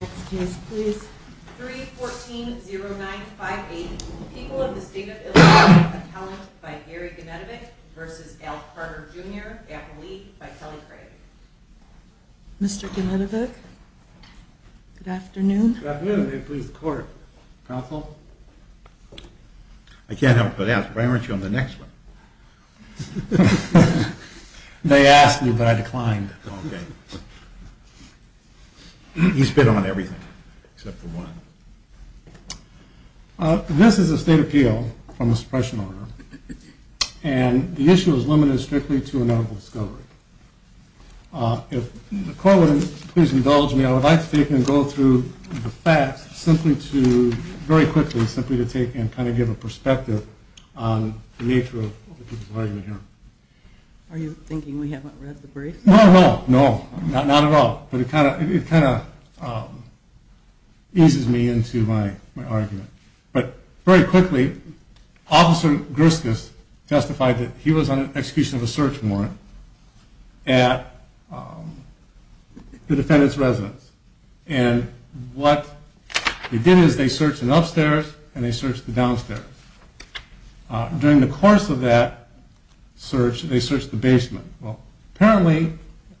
Next case please. 3-14-09-580. People of the State of Illinois. Appellant by Gary Genetovic v. Al Carter, Jr. Appellee by Kelly Craig. Mr. Genetovic, good afternoon. Good afternoon. May it please the Court. Counsel? I can't help but ask, why weren't you on the next one? They asked me, but I declined. He's been on everything except for one. This is a state appeal from the suppression order, and the issue is limited strictly to a medical discovery. If the Court would please indulge me, I would like to take and go through the facts simply to, very quickly, give a perspective on the nature of the people's argument here. Are you thinking we haven't read the briefs? No, not at all. But it kind of eases me into my argument. But, very quickly, Officer Gerskus testified that he was on the execution of a search warrant at the defendant's residence. And what they did is they searched the upstairs and they searched the downstairs. During the course of that search, they searched the basement. Apparently,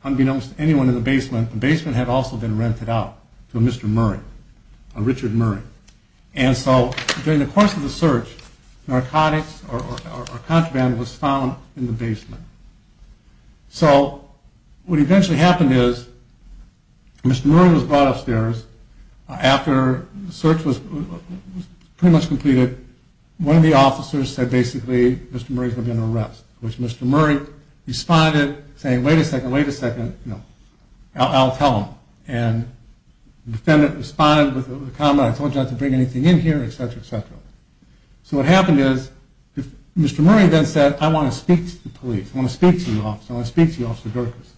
unbeknownst to anyone in the basement, the basement had also been rented out to a Mr. Murray, a Richard Murray. And so, during the course of the search, narcotics or contraband was found in the basement. So, what eventually happened is, Mr. Murray was brought upstairs. After the search was pretty much completed, one of the officers said, basically, Mr. Murray's going to be under arrest. Which Mr. Murray responded, saying, wait a second, wait a second, I'll tell him. And the defendant responded with a comment, I told you not to bring anything in here, etc., etc. So, what happened is, Mr. Murray then said, I want to speak to the police, I want to speak to the officer, I want to speak to Officer Gerskus.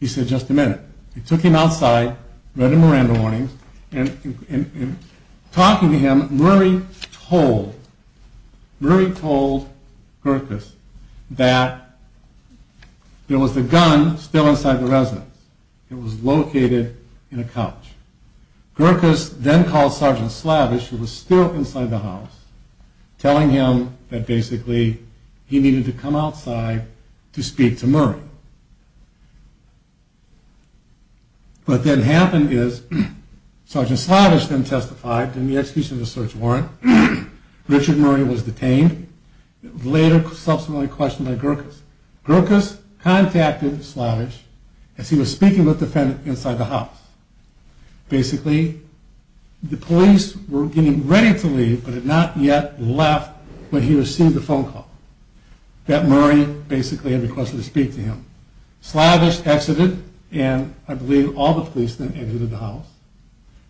He said, just a minute. They took him outside, read the Miranda warnings, and in talking to him, Murray told Gerskus that there was a gun still inside the residence. It was located in a couch. Gerskus then called Sergeant Slavich, who was still inside the house, telling him that basically he needed to come outside to speak to Murray. What then happened is, Sergeant Slavich then testified in the execution of the search warrant. Richard Murray was detained, later subsequently questioned by Gerskus. Gerskus contacted Slavich as he was speaking with the defendant inside the house. Basically, the police were getting ready to leave, but had not yet left when he received the phone call that Murray basically had requested to speak to him. Slavich exited, and I believe all the police then exited the house.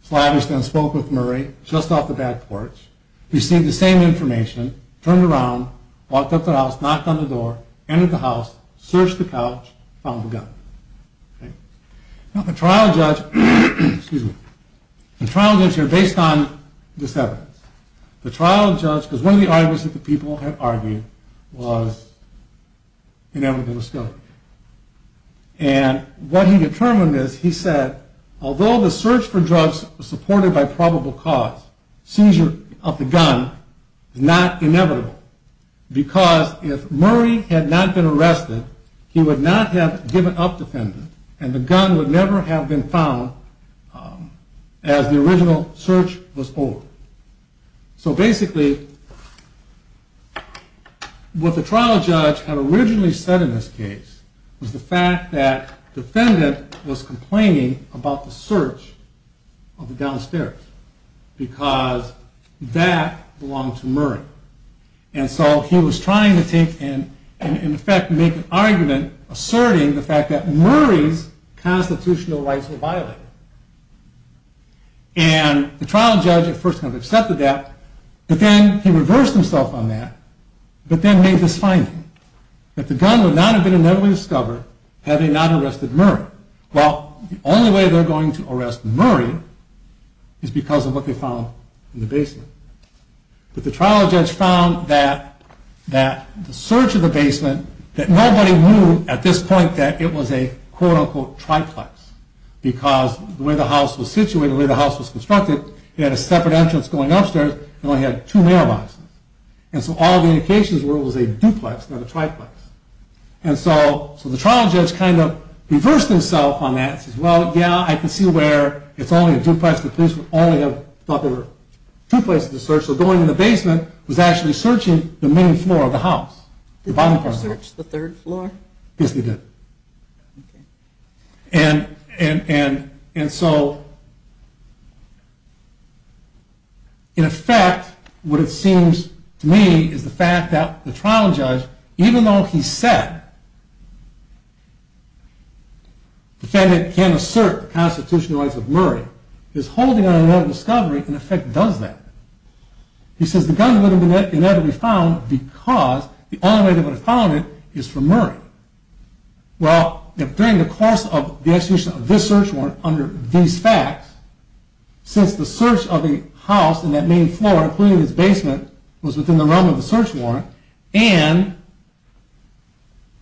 Slavich then spoke with Murray, just off the back porch. He received the same information, turned around, walked out the house, knocked on the door, entered the house, searched the couch, found the gun. Now the trial judge, excuse me, the trial judge here, based on this evidence, the trial judge, because one of the arguments that the people had argued, was inevitable still. And what he determined is, he said, although the search for drugs supported by probable cause, seizure of the gun, is not inevitable, because if Murray had not been arrested, he would not have given up defendant, and the gun would never have been found as the original search was over. So basically, what the trial judge had originally said in this case, was the fact that the defendant was complaining about the search of the downstairs, because that belonged to Murray. And so he was trying to make an argument asserting the fact that Murray's constitutional rights were violated. And the trial judge at first kind of accepted that, but then he reversed himself on that, but then made this finding, that the gun would not have been discovered had he not arrested Murray. Well, the only way they're going to arrest Murray is because of what they found in the basement. But the trial judge found that the search of the basement, that nobody knew at this point that it was a quote unquote triplex, because the way the house was situated, the way the house was constructed, it had a separate entrance going upstairs, it only had two mailboxes. And so all the indications were it was a duplex, not a triplex. And so the trial judge kind of reversed himself on that, and said, well, yeah, I can see where it's only a duplex, the police would only have thought there were two places to search, so going in the basement was actually searching the main floor of the house. Did the police search the third floor? Yes, they did. And so, in effect, what it seems to me is the fact that the trial judge, even though he said the defendant can assert the constitutional rights of Murray, his holding on another discovery in effect does that. He says the gun would have been found because the only way they would have found it is from Murray. Well, during the course of the execution of this search warrant under these facts, since the search of the house and that main floor, including its basement, was within the realm of the search warrant, and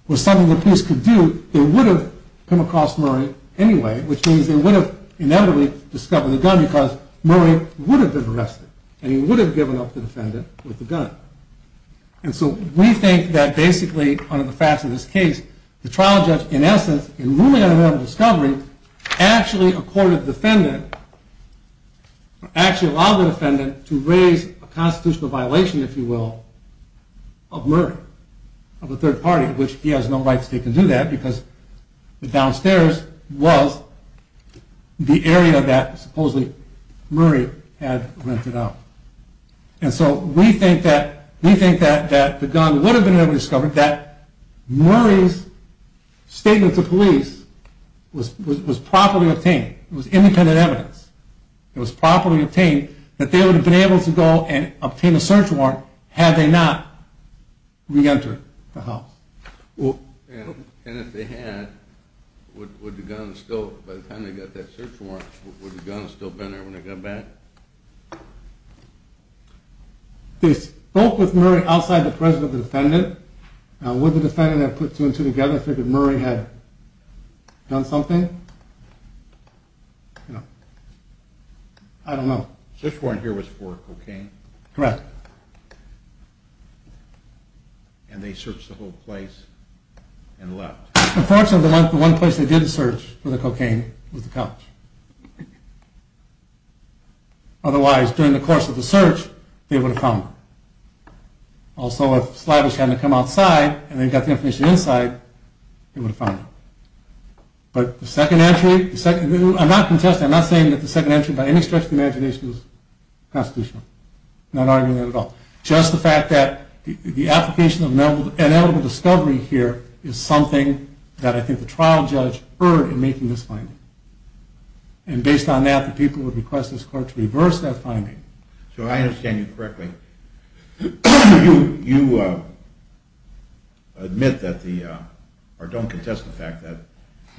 was something the police could do, they would have come across Murray anyway, which means they would have inevitably discovered the gun because Murray would have been arrested, and he would have given up the defendant with the gun. And so we think that basically, under the facts of this case, the trial judge, in essence, in ruling on another discovery, actually accorded the defendant, actually allowed the defendant to raise a constitutional violation, if you will, of Murray, of the third party, which he has no right to do that because the downstairs was the area that supposedly Murray had rented out. And so we think that the gun would have been discovered that Murray's statement to police was properly obtained. It was independent evidence. It was properly obtained that they would have been able to go and obtain a search warrant had they not re-entered the house. And if they had, would the gun still, by the time they got that search warrant, would the gun have still been there when they got back? They spoke with Murray outside the presence of the defendant. Would the defendant have put two and two together if they knew Murray had done something? I don't know. The search warrant here was for cocaine. Correct. Correct. And they searched the whole place and left. Unfortunately, the one place they did search for the cocaine was the couch. Otherwise, during the course of the search, they would have found it. Also, if Slavich hadn't come outside and then got the information inside, they would have found it. But the second entry, I'm not contesting, I'm not saying that the second entry, by any stretch of the imagination, is constitutional. I'm not arguing that at all. Just the fact that the application of ineligible discovery here is something that I think the trial judge heard in making this finding. And based on that, the people would request this court to reverse that finding. So if I understand you correctly, you admit that the, or don't contest the fact that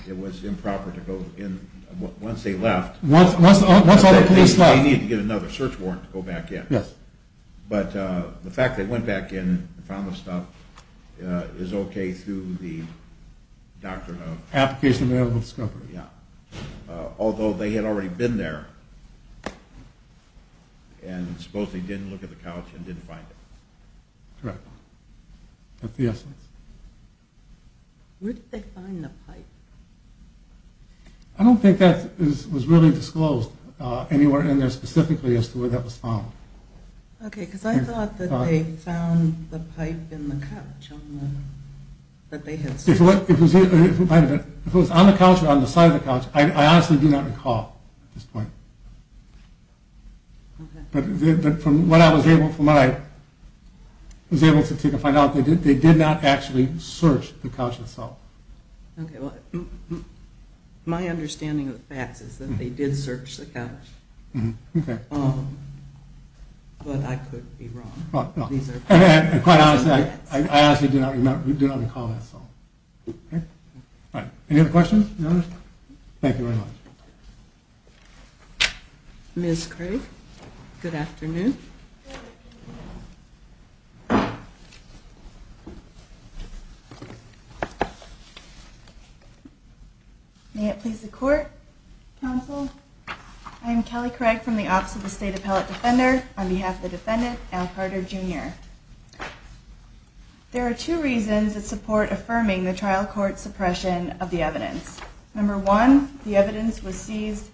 it was improper to go in once they left. Once all the police left. They needed to get another search warrant to go back in. Yes. But the fact that they went back in and found the stuff is okay through the doctrine of... Application of ineligible discovery. Yeah. Although they had already been there and supposedly didn't look at the couch and didn't find it. Correct. That's the essence. Where did they find the pipe? I don't think that was really disclosed anywhere in there specifically as to where that was found. Okay, because I thought that they found the pipe in the couch that they had searched. If it was on the couch or on the side of the couch, I honestly do not recall at this point. Okay. But from what I was able to find out, they did not actually search the couch itself. Okay, well, my understanding of the facts is that they did search the couch. Okay. But I could be wrong. And quite honestly, I honestly do not recall that at all. Okay. Any other questions? Thank you very much. Ms. Craig, good afternoon. May it please the Court, Counsel? I am Kelly Craig from the Office of the State Appellate Defender. On behalf of the defendant, Al Carter, Jr. There are two reasons that support affirming the trial court's suppression of the evidence. Number one, the evidence seized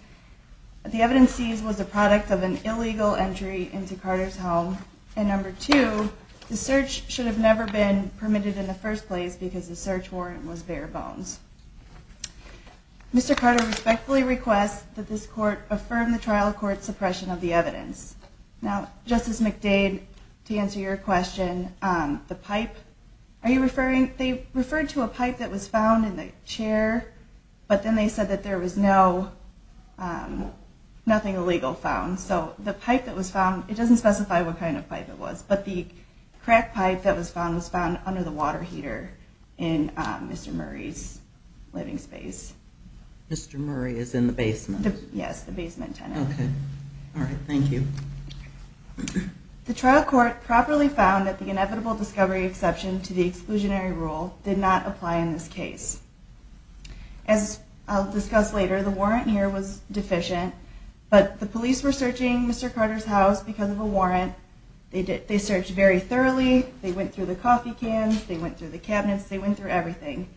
was a product of an illegal entry into Carter's home. And number two, the search should have never been permitted in the first place because the search warrant was bare bones. Mr. Carter respectfully requests that this Court affirm the trial court's suppression of the evidence. Now, Justice McDade, to answer your question, the pipe, are you referring, they referred to a pipe that was found in the chair, but then they said that there was no, nothing illegal found. So the pipe that was found, it doesn't specify what kind of pipe it was, but the crack pipe that was found was found under the water heater in Mr. Murray's living space. Mr. Murray is in the basement? Yes, the basement tenant. Okay. All right, thank you. The trial court properly found that the inevitable discovery exception to the exclusionary rule did not apply in this case. As I'll discuss later, the warrant here was deficient, but the police were searching Mr. Carter's house because of a warrant. They searched very thoroughly. They went through the coffee cans. They went through the cabinets. They went through everything.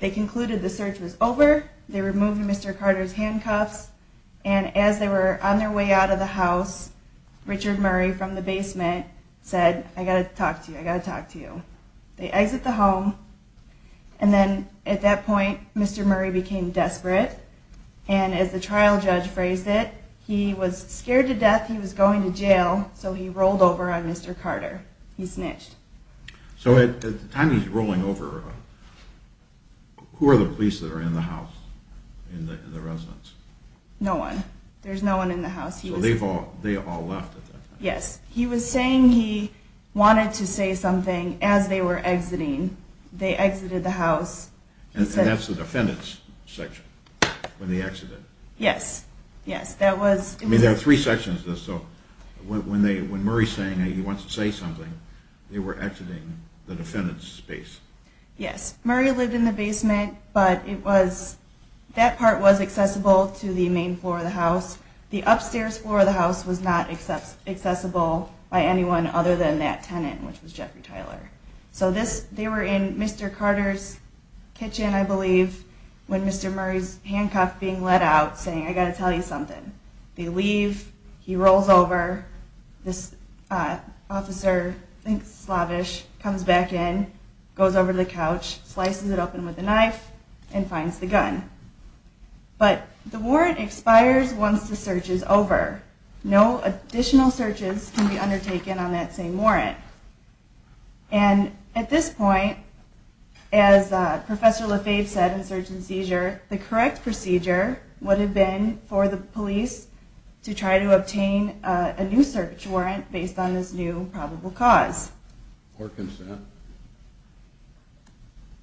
They concluded the search was over. They removed Mr. Carter's handcuffs, and as they were on their way out of the house, Richard Murray from the basement said, I got to talk to you. I got to talk to you. They exit the home, and then at that point, Mr. Murray became desperate, and as the trial judge phrased it, he was scared to death he was going to jail, so he rolled over on Mr. Carter. He snitched. So at the time he's rolling over, who are the police that are in the house, in the residence? No one. There's no one in the house. So they've all left? Yes. He was saying he wanted to say something as they were exiting. They exited the house. And that's the defendant's section when they exited? Yes. Yes, that was... I mean, there are three sections of this, so when Murray's saying he wants to say something, they were exiting the defendant's space. Yes. The upstairs floor of the house was not accessible by anyone other than that tenant, which was Jeffrey Tyler. So they were in Mr. Carter's kitchen, I believe, when Mr. Murray's handcuffed, being let out, saying, I got to tell you something. They leave. He rolls over. This officer, thinks it's slavish, comes back in, goes over to the couch, slices it open with a knife, and finds the gun. But the warrant expires once the search is over. No additional searches can be undertaken on that same warrant. And at this point, as Professor LaFave said in search and seizure, the correct procedure would have been for the police to try to obtain a new search warrant based on this new probable cause. Or consent.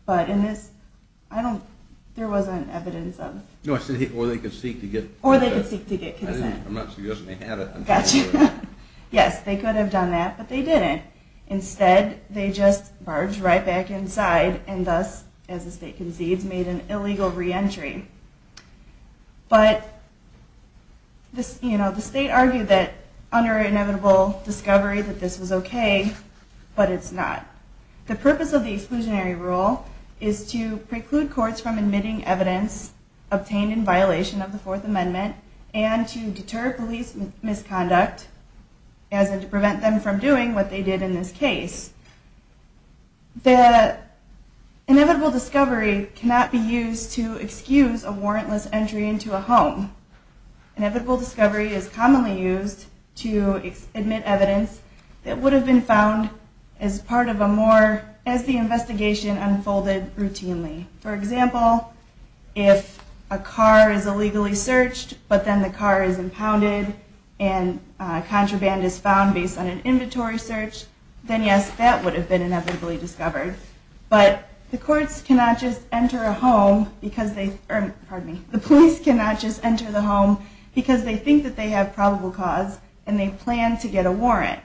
But in this, I don't, there wasn't evidence of. No, I said, or they could seek to get consent. Or they could seek to get consent. I'm not suggesting they had it. Gotcha. Yes, they could have done that, but they didn't. Instead, they just barged right back inside, and thus, as the state concedes, made an illegal reentry. But, you know, the state argued that under inevitable discovery that this was okay, but it's not. The purpose of the exclusionary rule is to preclude courts from admitting evidence obtained in violation of the Fourth Amendment and to deter police misconduct, as in to prevent them from doing what they did in this case. The inevitable discovery cannot be used to excuse a warrantless entry into a home. Inevitable discovery is commonly used to admit evidence that would have been found as part of a more, as the investigation unfolded routinely. For example, if a car is illegally searched, but then the car is impounded, and contraband is found based on an inventory search, then yes, that would have been inevitably discovered. But the courts cannot just enter a home because they, pardon me, the police cannot just enter the home because they think that they have probable cause and they plan to get a warrant.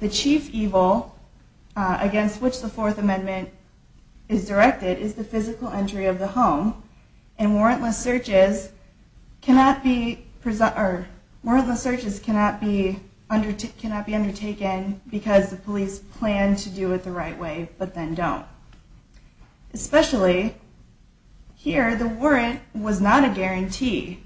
The chief evil against which the Fourth Amendment is directed is the physical entry of the home, and warrantless searches cannot be undertaken because the police plan to do it the right way, but then don't. Especially here, the warrant was not a guarantee.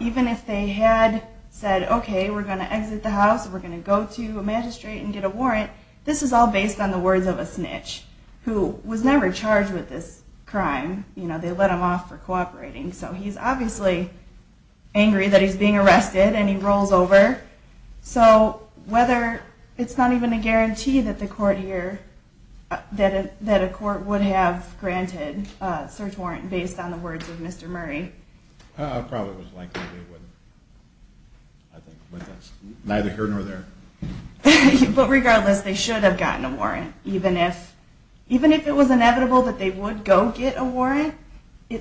Even if they had said, okay, we're going to exit the house, we're going to go to a magistrate and get a warrant, this is all based on the words of a snitch who was never charged with this crime. You know, they let him off for cooperating. So he's obviously angry that he's being arrested and he rolls over. So whether it's not even a guarantee that the court here, that a court would have granted a search warrant based on the words of Mr. Murray. It probably was likely they wouldn't. I think, but that's neither here nor there. But regardless, they should have gotten a warrant. Even if it was inevitable that they would go get a warrant, they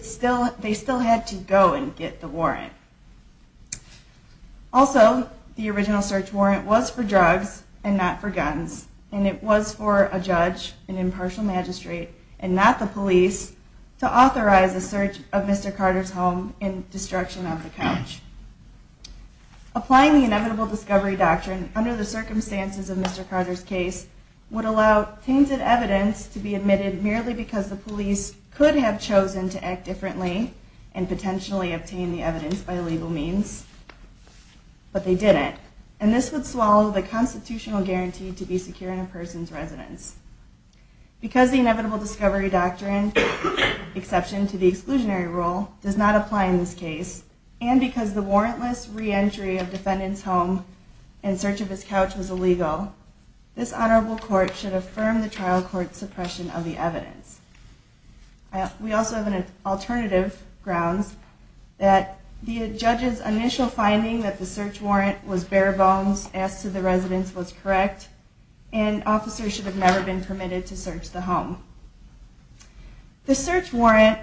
still had to go and get the warrant. And it was for a judge, an impartial magistrate, and not the police, to authorize the search of Mr. Carter's home and destruction of the couch. Applying the inevitable discovery doctrine under the circumstances of Mr. Carter's case would allow tainted evidence to be admitted merely because the police could have chosen to act differently and potentially obtain the evidence by legal means, but they didn't. And this would swallow the constitutional guarantee to be secure in a person's residence. Because the inevitable discovery doctrine, exception to the exclusionary rule, does not apply in this case, and because the warrantless reentry of defendant's home and search of his couch was illegal, this honorable court should affirm the trial court's suppression of the evidence. We also have alternative grounds that the judge's initial finding that the search warrant was bare bones, asked if the residence was correct, and officers should have never been permitted to search the home. The search warrant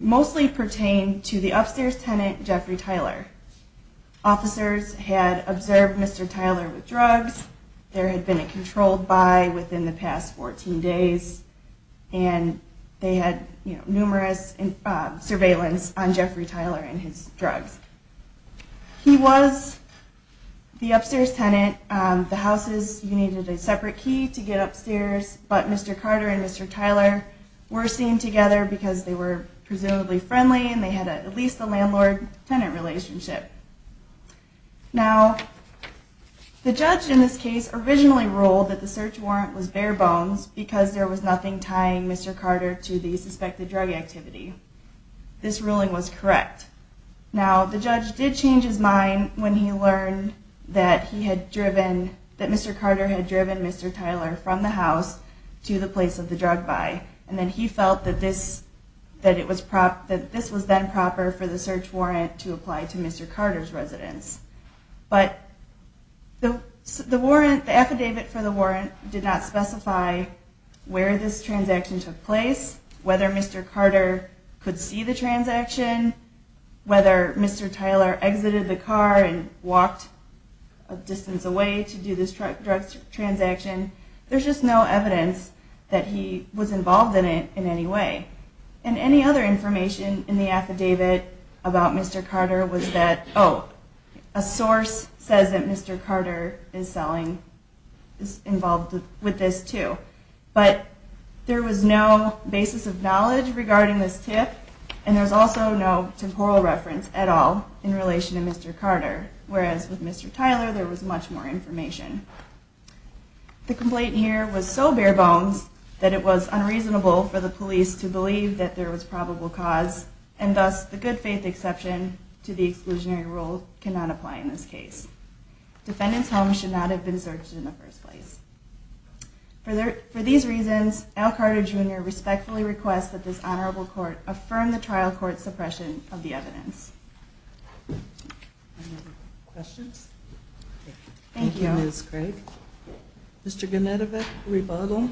mostly pertained to the upstairs tenant, Jeffrey Tyler. Officers had observed Mr. Tyler with drugs. There had been a controlled by within the past 14 days, He was the upstairs tenant. The houses needed a separate key to get upstairs, but Mr. Carter and Mr. Tyler were seen together because they were presumably friendly and they had at least a landlord-tenant relationship. Now, the judge in this case originally ruled that the search warrant was bare bones because there was nothing tying Mr. Carter to the suspected drug activity. This ruling was correct. Now, the judge did change his mind when he learned that he had driven, that Mr. Carter had driven Mr. Tyler from the house to the place of the drug buy, and then he felt that this was then proper for the search warrant to apply to Mr. Carter's residence. But the affidavit for the warrant did not specify where this transaction took place, whether Mr. Carter could see the transaction, whether Mr. Tyler exited the car and walked a distance away to do this drug transaction. There's just no evidence that he was involved in it in any way. And any other information in the affidavit about Mr. Carter was that, oh, a source says that Mr. Carter is involved with this too. But there was no basis of knowledge regarding this tip, and there's also no temporal reference at all in relation to Mr. Carter, whereas with Mr. Tyler there was much more information. The complaint here was so bare bones that it was unreasonable for the police to believe that there was probable cause, and thus the good faith exception to the exclusionary rule cannot apply in this case. Defendants' homes should not have been searched in the first place. For these reasons, Al Carter, Jr. respectfully requests that this Honorable Court affirm the trial court's suppression of the evidence. Any other questions? Thank you, Ms. Craig. Mr. Gunetovic, rebuttal.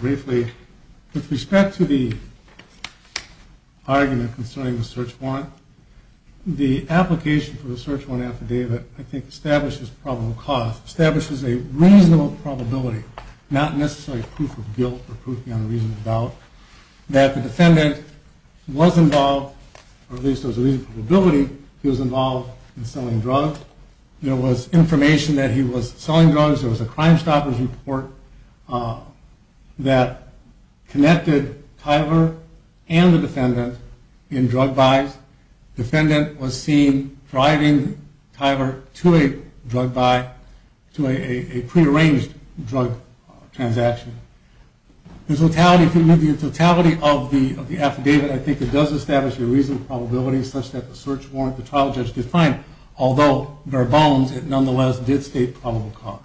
Briefly, with respect to the argument concerning the search warrant, the application for the search warrant affidavit, I think, establishes probable cause, establishes a reasonable probability, not necessarily proof of guilt or proof beyond a reasonable doubt, that the defendant was involved, or at least there was a reasonable probability he was involved in selling drugs. There was information that he was selling drugs. There was a Crimestoppers report that connected Tyler and the defendant in drug buys. Defendant was seen driving Tyler to a drug buy, to a prearranged drug transaction. The totality of the affidavit, I think, it does establish a reasonable probability such that the search warrant that the trial judge defined, although bare bones, it nonetheless did state probable cause.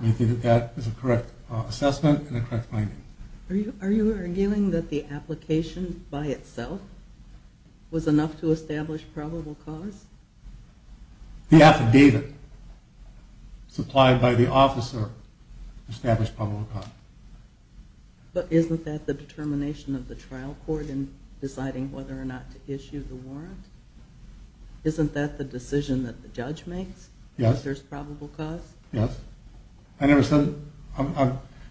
I think that that is a correct assessment and a correct finding. Are you arguing that the application by itself was enough to establish probable cause? The affidavit supplied by the officer established probable cause. But isn't that the determination of the trial court in deciding whether or not to issue the warrant? Isn't that the decision that the judge makes? Yes. That there's probable cause? Yes. I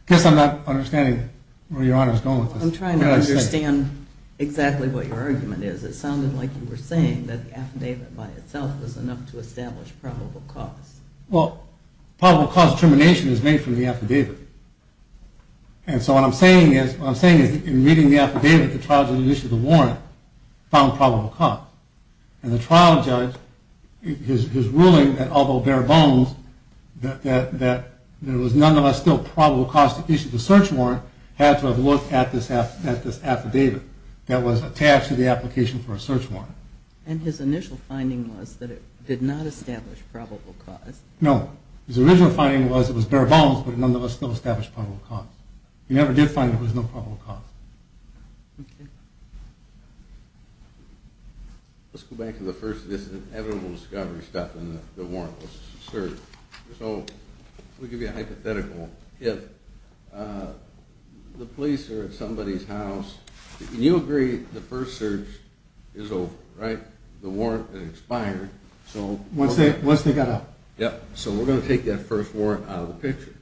guess I'm not understanding where Your Honor is going with this. I'm trying to understand exactly what your argument is. It sounded like you were saying that the affidavit by itself was enough to establish probable cause. Well, probable cause determination is made from the affidavit. And so what I'm saying is, in reading the affidavit, the trial judge issued the warrant, found probable cause. And the trial judge, his ruling that although bare bones, that there was nonetheless still probable cause to issue the search warrant, had to have looked at this affidavit that was attached to the application for a search warrant. And his initial finding was that it did not establish probable cause? No. His original finding was it was bare bones, but it nonetheless still established probable cause. He never did find that there was no probable cause. Okay. Let's go back to the first of this inevitable discovery stuff in the warrantless search. So let me give you a hypothetical. If the police are at somebody's house, and you agree the first search is over, right? The warrant expired. Once they got out. Yep. So we're going to take that first warrant out of the picture.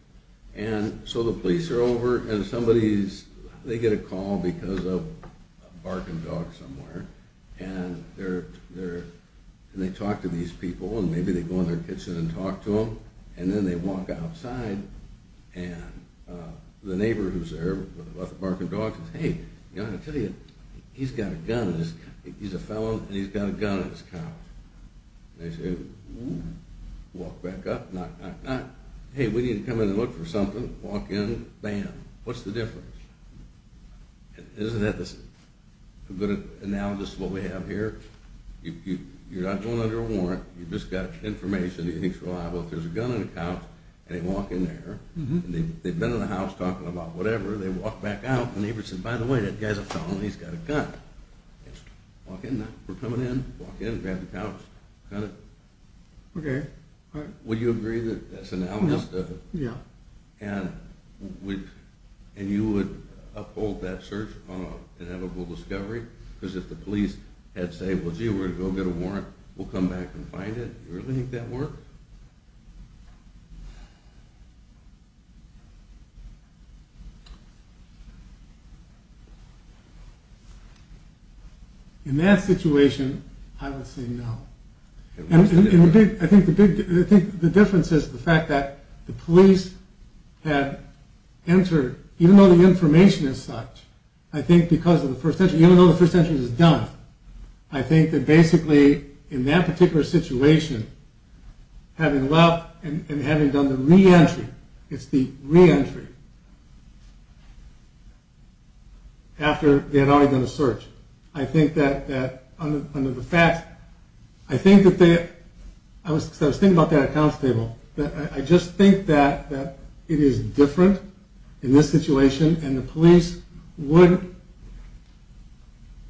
And so the police are over, and somebody's, they get a call because of a barking dog somewhere, and they talk to these people, and maybe they go in their kitchen and talk to them, and then they walk outside, and the neighbor who's there with the barking dog says, hey, I tell you, he's got a gun in his, he's a fellow and he's got a gun in his couch. And they say, ooh, walk back up, knock, knock, knock. Hey, we need to come in and look for something. Walk in, bam. What's the difference? Isn't that a good analogous to what we have here? You're not going under a warrant. You've just got information that you think is reliable. If there's a gun in the couch and they walk in there, and they've been in the house talking about whatever, they walk back out, and the neighbor says, by the way, that guy's a fellow and he's got a gun. Walk in there. We're coming in. Walk in, grab the couch, gun it. Okay. Would you agree that that's analogous to it? Yeah. And you would uphold that search on an inevitable discovery? Because if the police had said, well, gee, we're going to go get a warrant, we'll come back and find it. You really think that'd work? In that situation, I would say no. I think the difference is the fact that the police had entered, even though the information is such, I think because of the first entry, even though the first entry was done, I think that basically in that particular situation, having left and having done the reentry, it's the reentry, after they had already done a search. I think that under the facts, I think that they, I was thinking about that at the council table, that I just think that it is different in this situation, and the police would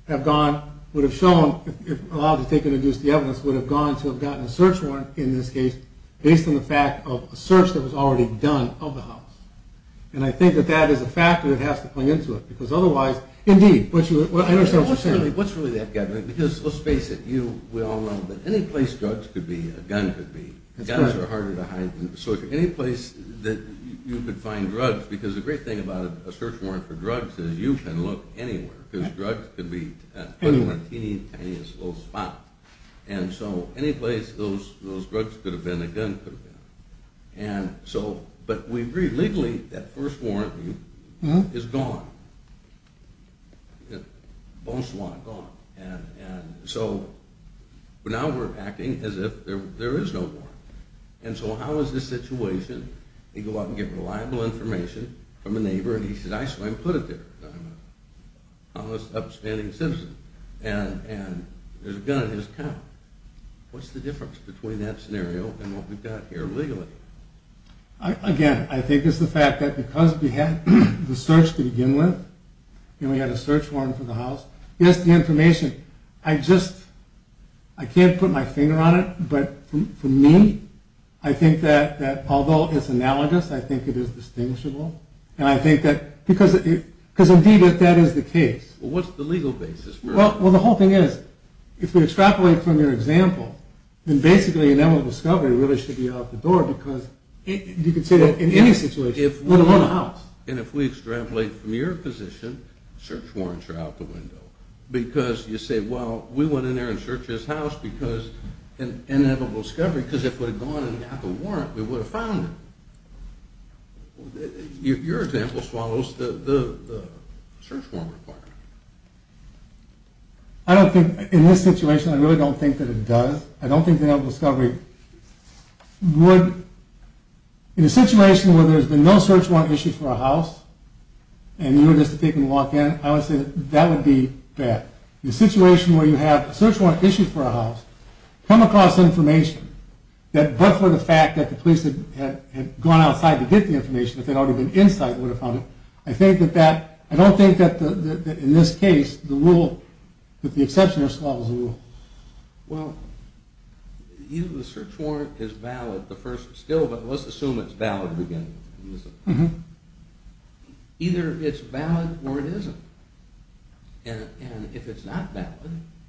have gone, would have shown, if allowed to take and induce the evidence, would have gone to have gotten a search warrant in this case, based on the fact of a search that was already done of the house. And I think that that is a factor that has to play into it, because otherwise, indeed, I understand what you're saying. What's really that, Kevin? Because let's face it, we all know that any place drugs could be, a gun could be, guns are harder to hide. So any place that you could find drugs, because the great thing about a search warrant for drugs is you can look anywhere, because drugs can be in a teeny, tiniest little spot. And so any place those drugs could have been, a gun could have been. And so, but we agree, legally, that first warrant is gone. Bonsoir, gone. And so now we're acting as if there is no warrant. And so how is this situation, you go out and get reliable information from a neighbor, and he says, I swear he put it there. I'm an honest, upstanding citizen. And there's a gun in his car. What's the difference between that scenario and what we've got here legally? Again, I think it's the fact that because we had the search to begin with, and we had a search warrant for the house, yes, the information, I just, I can't put my finger on it, but for me, I think that although it's analogous, I think it is distinguishable. And I think that, because indeed, if that is the case. Well, what's the legal basis for it? Well, the whole thing is, if we extrapolate from your example, then basically inevitable discovery really should be out the door, because you can say that in any situation, let alone a house. And if we extrapolate from your position, search warrants are out the window. Because you say, well, we went in there and searched his house because an inevitable discovery, because if it had gone in and got the warrant, we would have found it. Your example swallows the search warrant requirement. I don't think, in this situation, I really don't think that it does. I don't think that an inevitable discovery would, in a situation where there's been no search warrant issued for a house, and you were just taking a walk in, I would say that would be bad. In a situation where you have a search warrant issued for a house, come across information that, but for the fact that the police had gone outside to get the information, if they'd already been inside, they would have found it. I think that that, I don't think that in this case, the rule, that the exception is swallowed the rule. Well, even the search warrant is valid, the first, still, but let's assume it's valid again. Either it's valid or it isn't. And if it's not valid,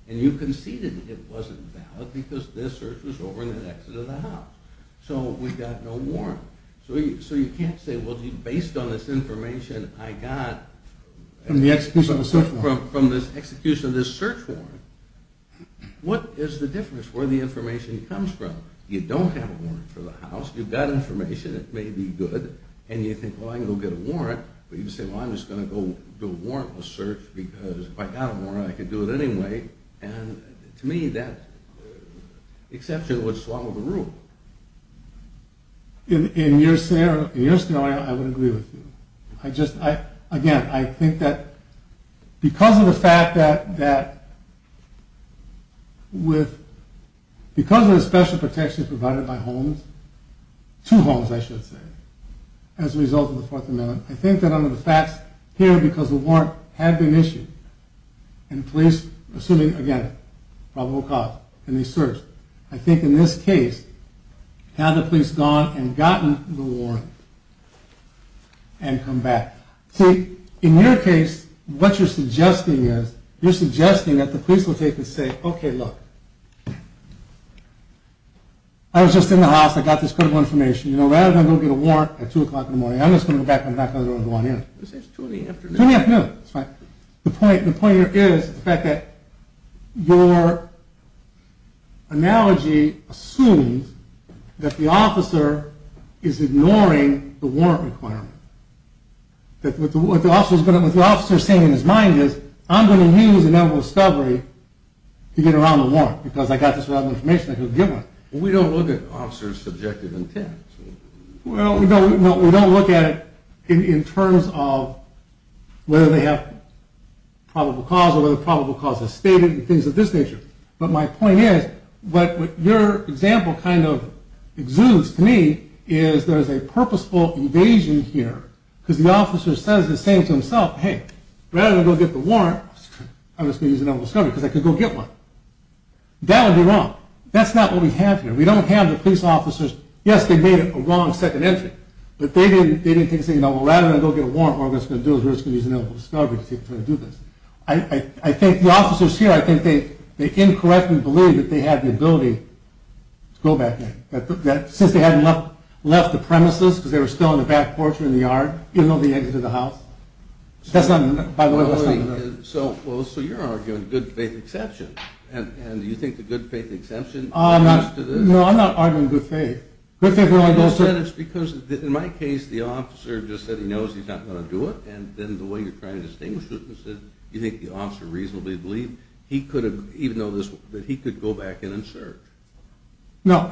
and you conceded it wasn't valid because this search was over in the exit of the house, so we've got no warrant. So you can't say, well, based on this information I got... From the execution of the search warrant. From the execution of this search warrant, what is the difference where the information comes from? You don't have a warrant for the house, you've got information, it may be good, and you think, well, I can go get a warrant, but you can say, well, I'm just going to go do a warrantless search because if I got a warrant, I could do it anyway. And to me, that exception would swallow the rule. In your scenario, I would agree with you. I just, again, I think that because of the fact that, because of the special protections provided by homes, two homes, I should say, as a result of the Fourth Amendment, I think that under the facts here, because the warrant had been issued, and the police, assuming, again, probable cause in the search, I think in this case, had the police gone and gotten the warrant and come back? See, in your case, what you're suggesting is, you're suggesting that the police will take and say, okay, look, I was just in the house, I got this critical information, you know, rather than go get a warrant at 2 o'clock in the morning, I'm just going to go back, I'm not going to go in the morning. This is 2 in the afternoon. 2 in the afternoon, that's right. The point here is the fact that your analogy assumes that the officer is ignoring the warrant requirement. What the officer is saying in his mind is, I'm going to use a negligent discovery to get around the warrant because I got this relevant information, I can give it. We don't look at officers' subjective intent. We don't look at it in terms of whether they have probable cause or whether probable cause is stated and things of this nature. But my point is, what your example kind of exudes to me is there's a purposeful evasion here because the officer says the same to himself, hey, rather than go get the warrant, I'm just going to use a negligent discovery because I could go get one. That would be wrong. That's not what we have here. We don't have the police officers, yes, they made a wrong second entry, but they didn't say, well, rather than go get a warrant, what we're going to do is we're just going to use a negligent discovery to try to do this. I think the officers here, I think they incorrectly believe that they had the ability to go back there. Since they hadn't left the premises because they were still in the back porch or in the yard, even though they entered the house. That's not by the way what's coming up. So you're arguing good faith exception. And do you think the good faith exception adds to this? No, I'm not arguing good faith. It's because, in my case, the officer just said he knows he's not going to do it and then the way you're trying to distinguish it, you think the officer reasonably believed that he could go back in and search. So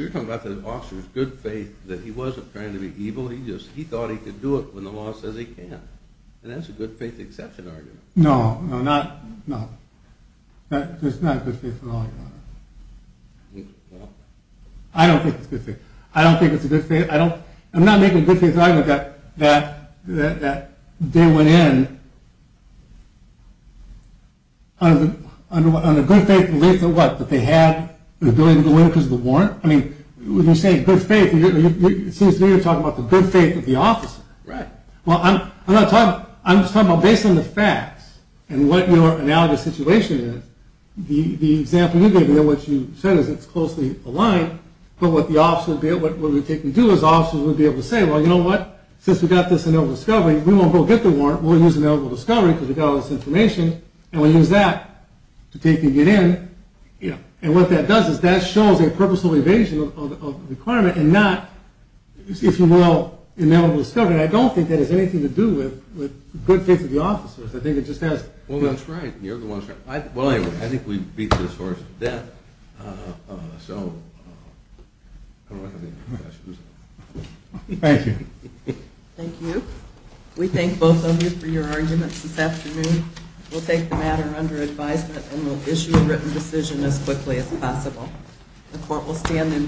you're talking about the officer's good faith that he wasn't trying to be evil, he thought he could do it when the law says he can't. And that's a good faith exception argument. No, no, no. That's not a good faith at all. I don't think it's a good faith. I don't think it's a good faith. I'm not making a good faith argument that they went in on the good faith belief that they had the ability to go in because of the warrant. When you say good faith, it seems to me you're talking about the good faith of the officer. Right. Well, I'm just talking about based on the facts and what your analogous situation is, the example you gave me of what you said is it's closely aligned, but what the officer would be able to do is the officer would be able to say, well, you know what? Since we got this ineligible discovery, we won't go get the warrant. We'll use ineligible discovery because we got all this information and we'll use that to take and get in. And what that does is that shows a purposeful evasion of the requirement and not, if you will, ineligible discovery. I don't think that has anything to do with good faith of the officers. I think it just has. Well, that's right. You're the one that's right. Well, anyway, I think we beat this horse to death. So I don't know if I have any more questions. Thank you. Thank you. We thank both of you for your arguments this afternoon. We'll take the matter under advisement and we'll issue a written decision as quickly as possible. The Court will stand in vote.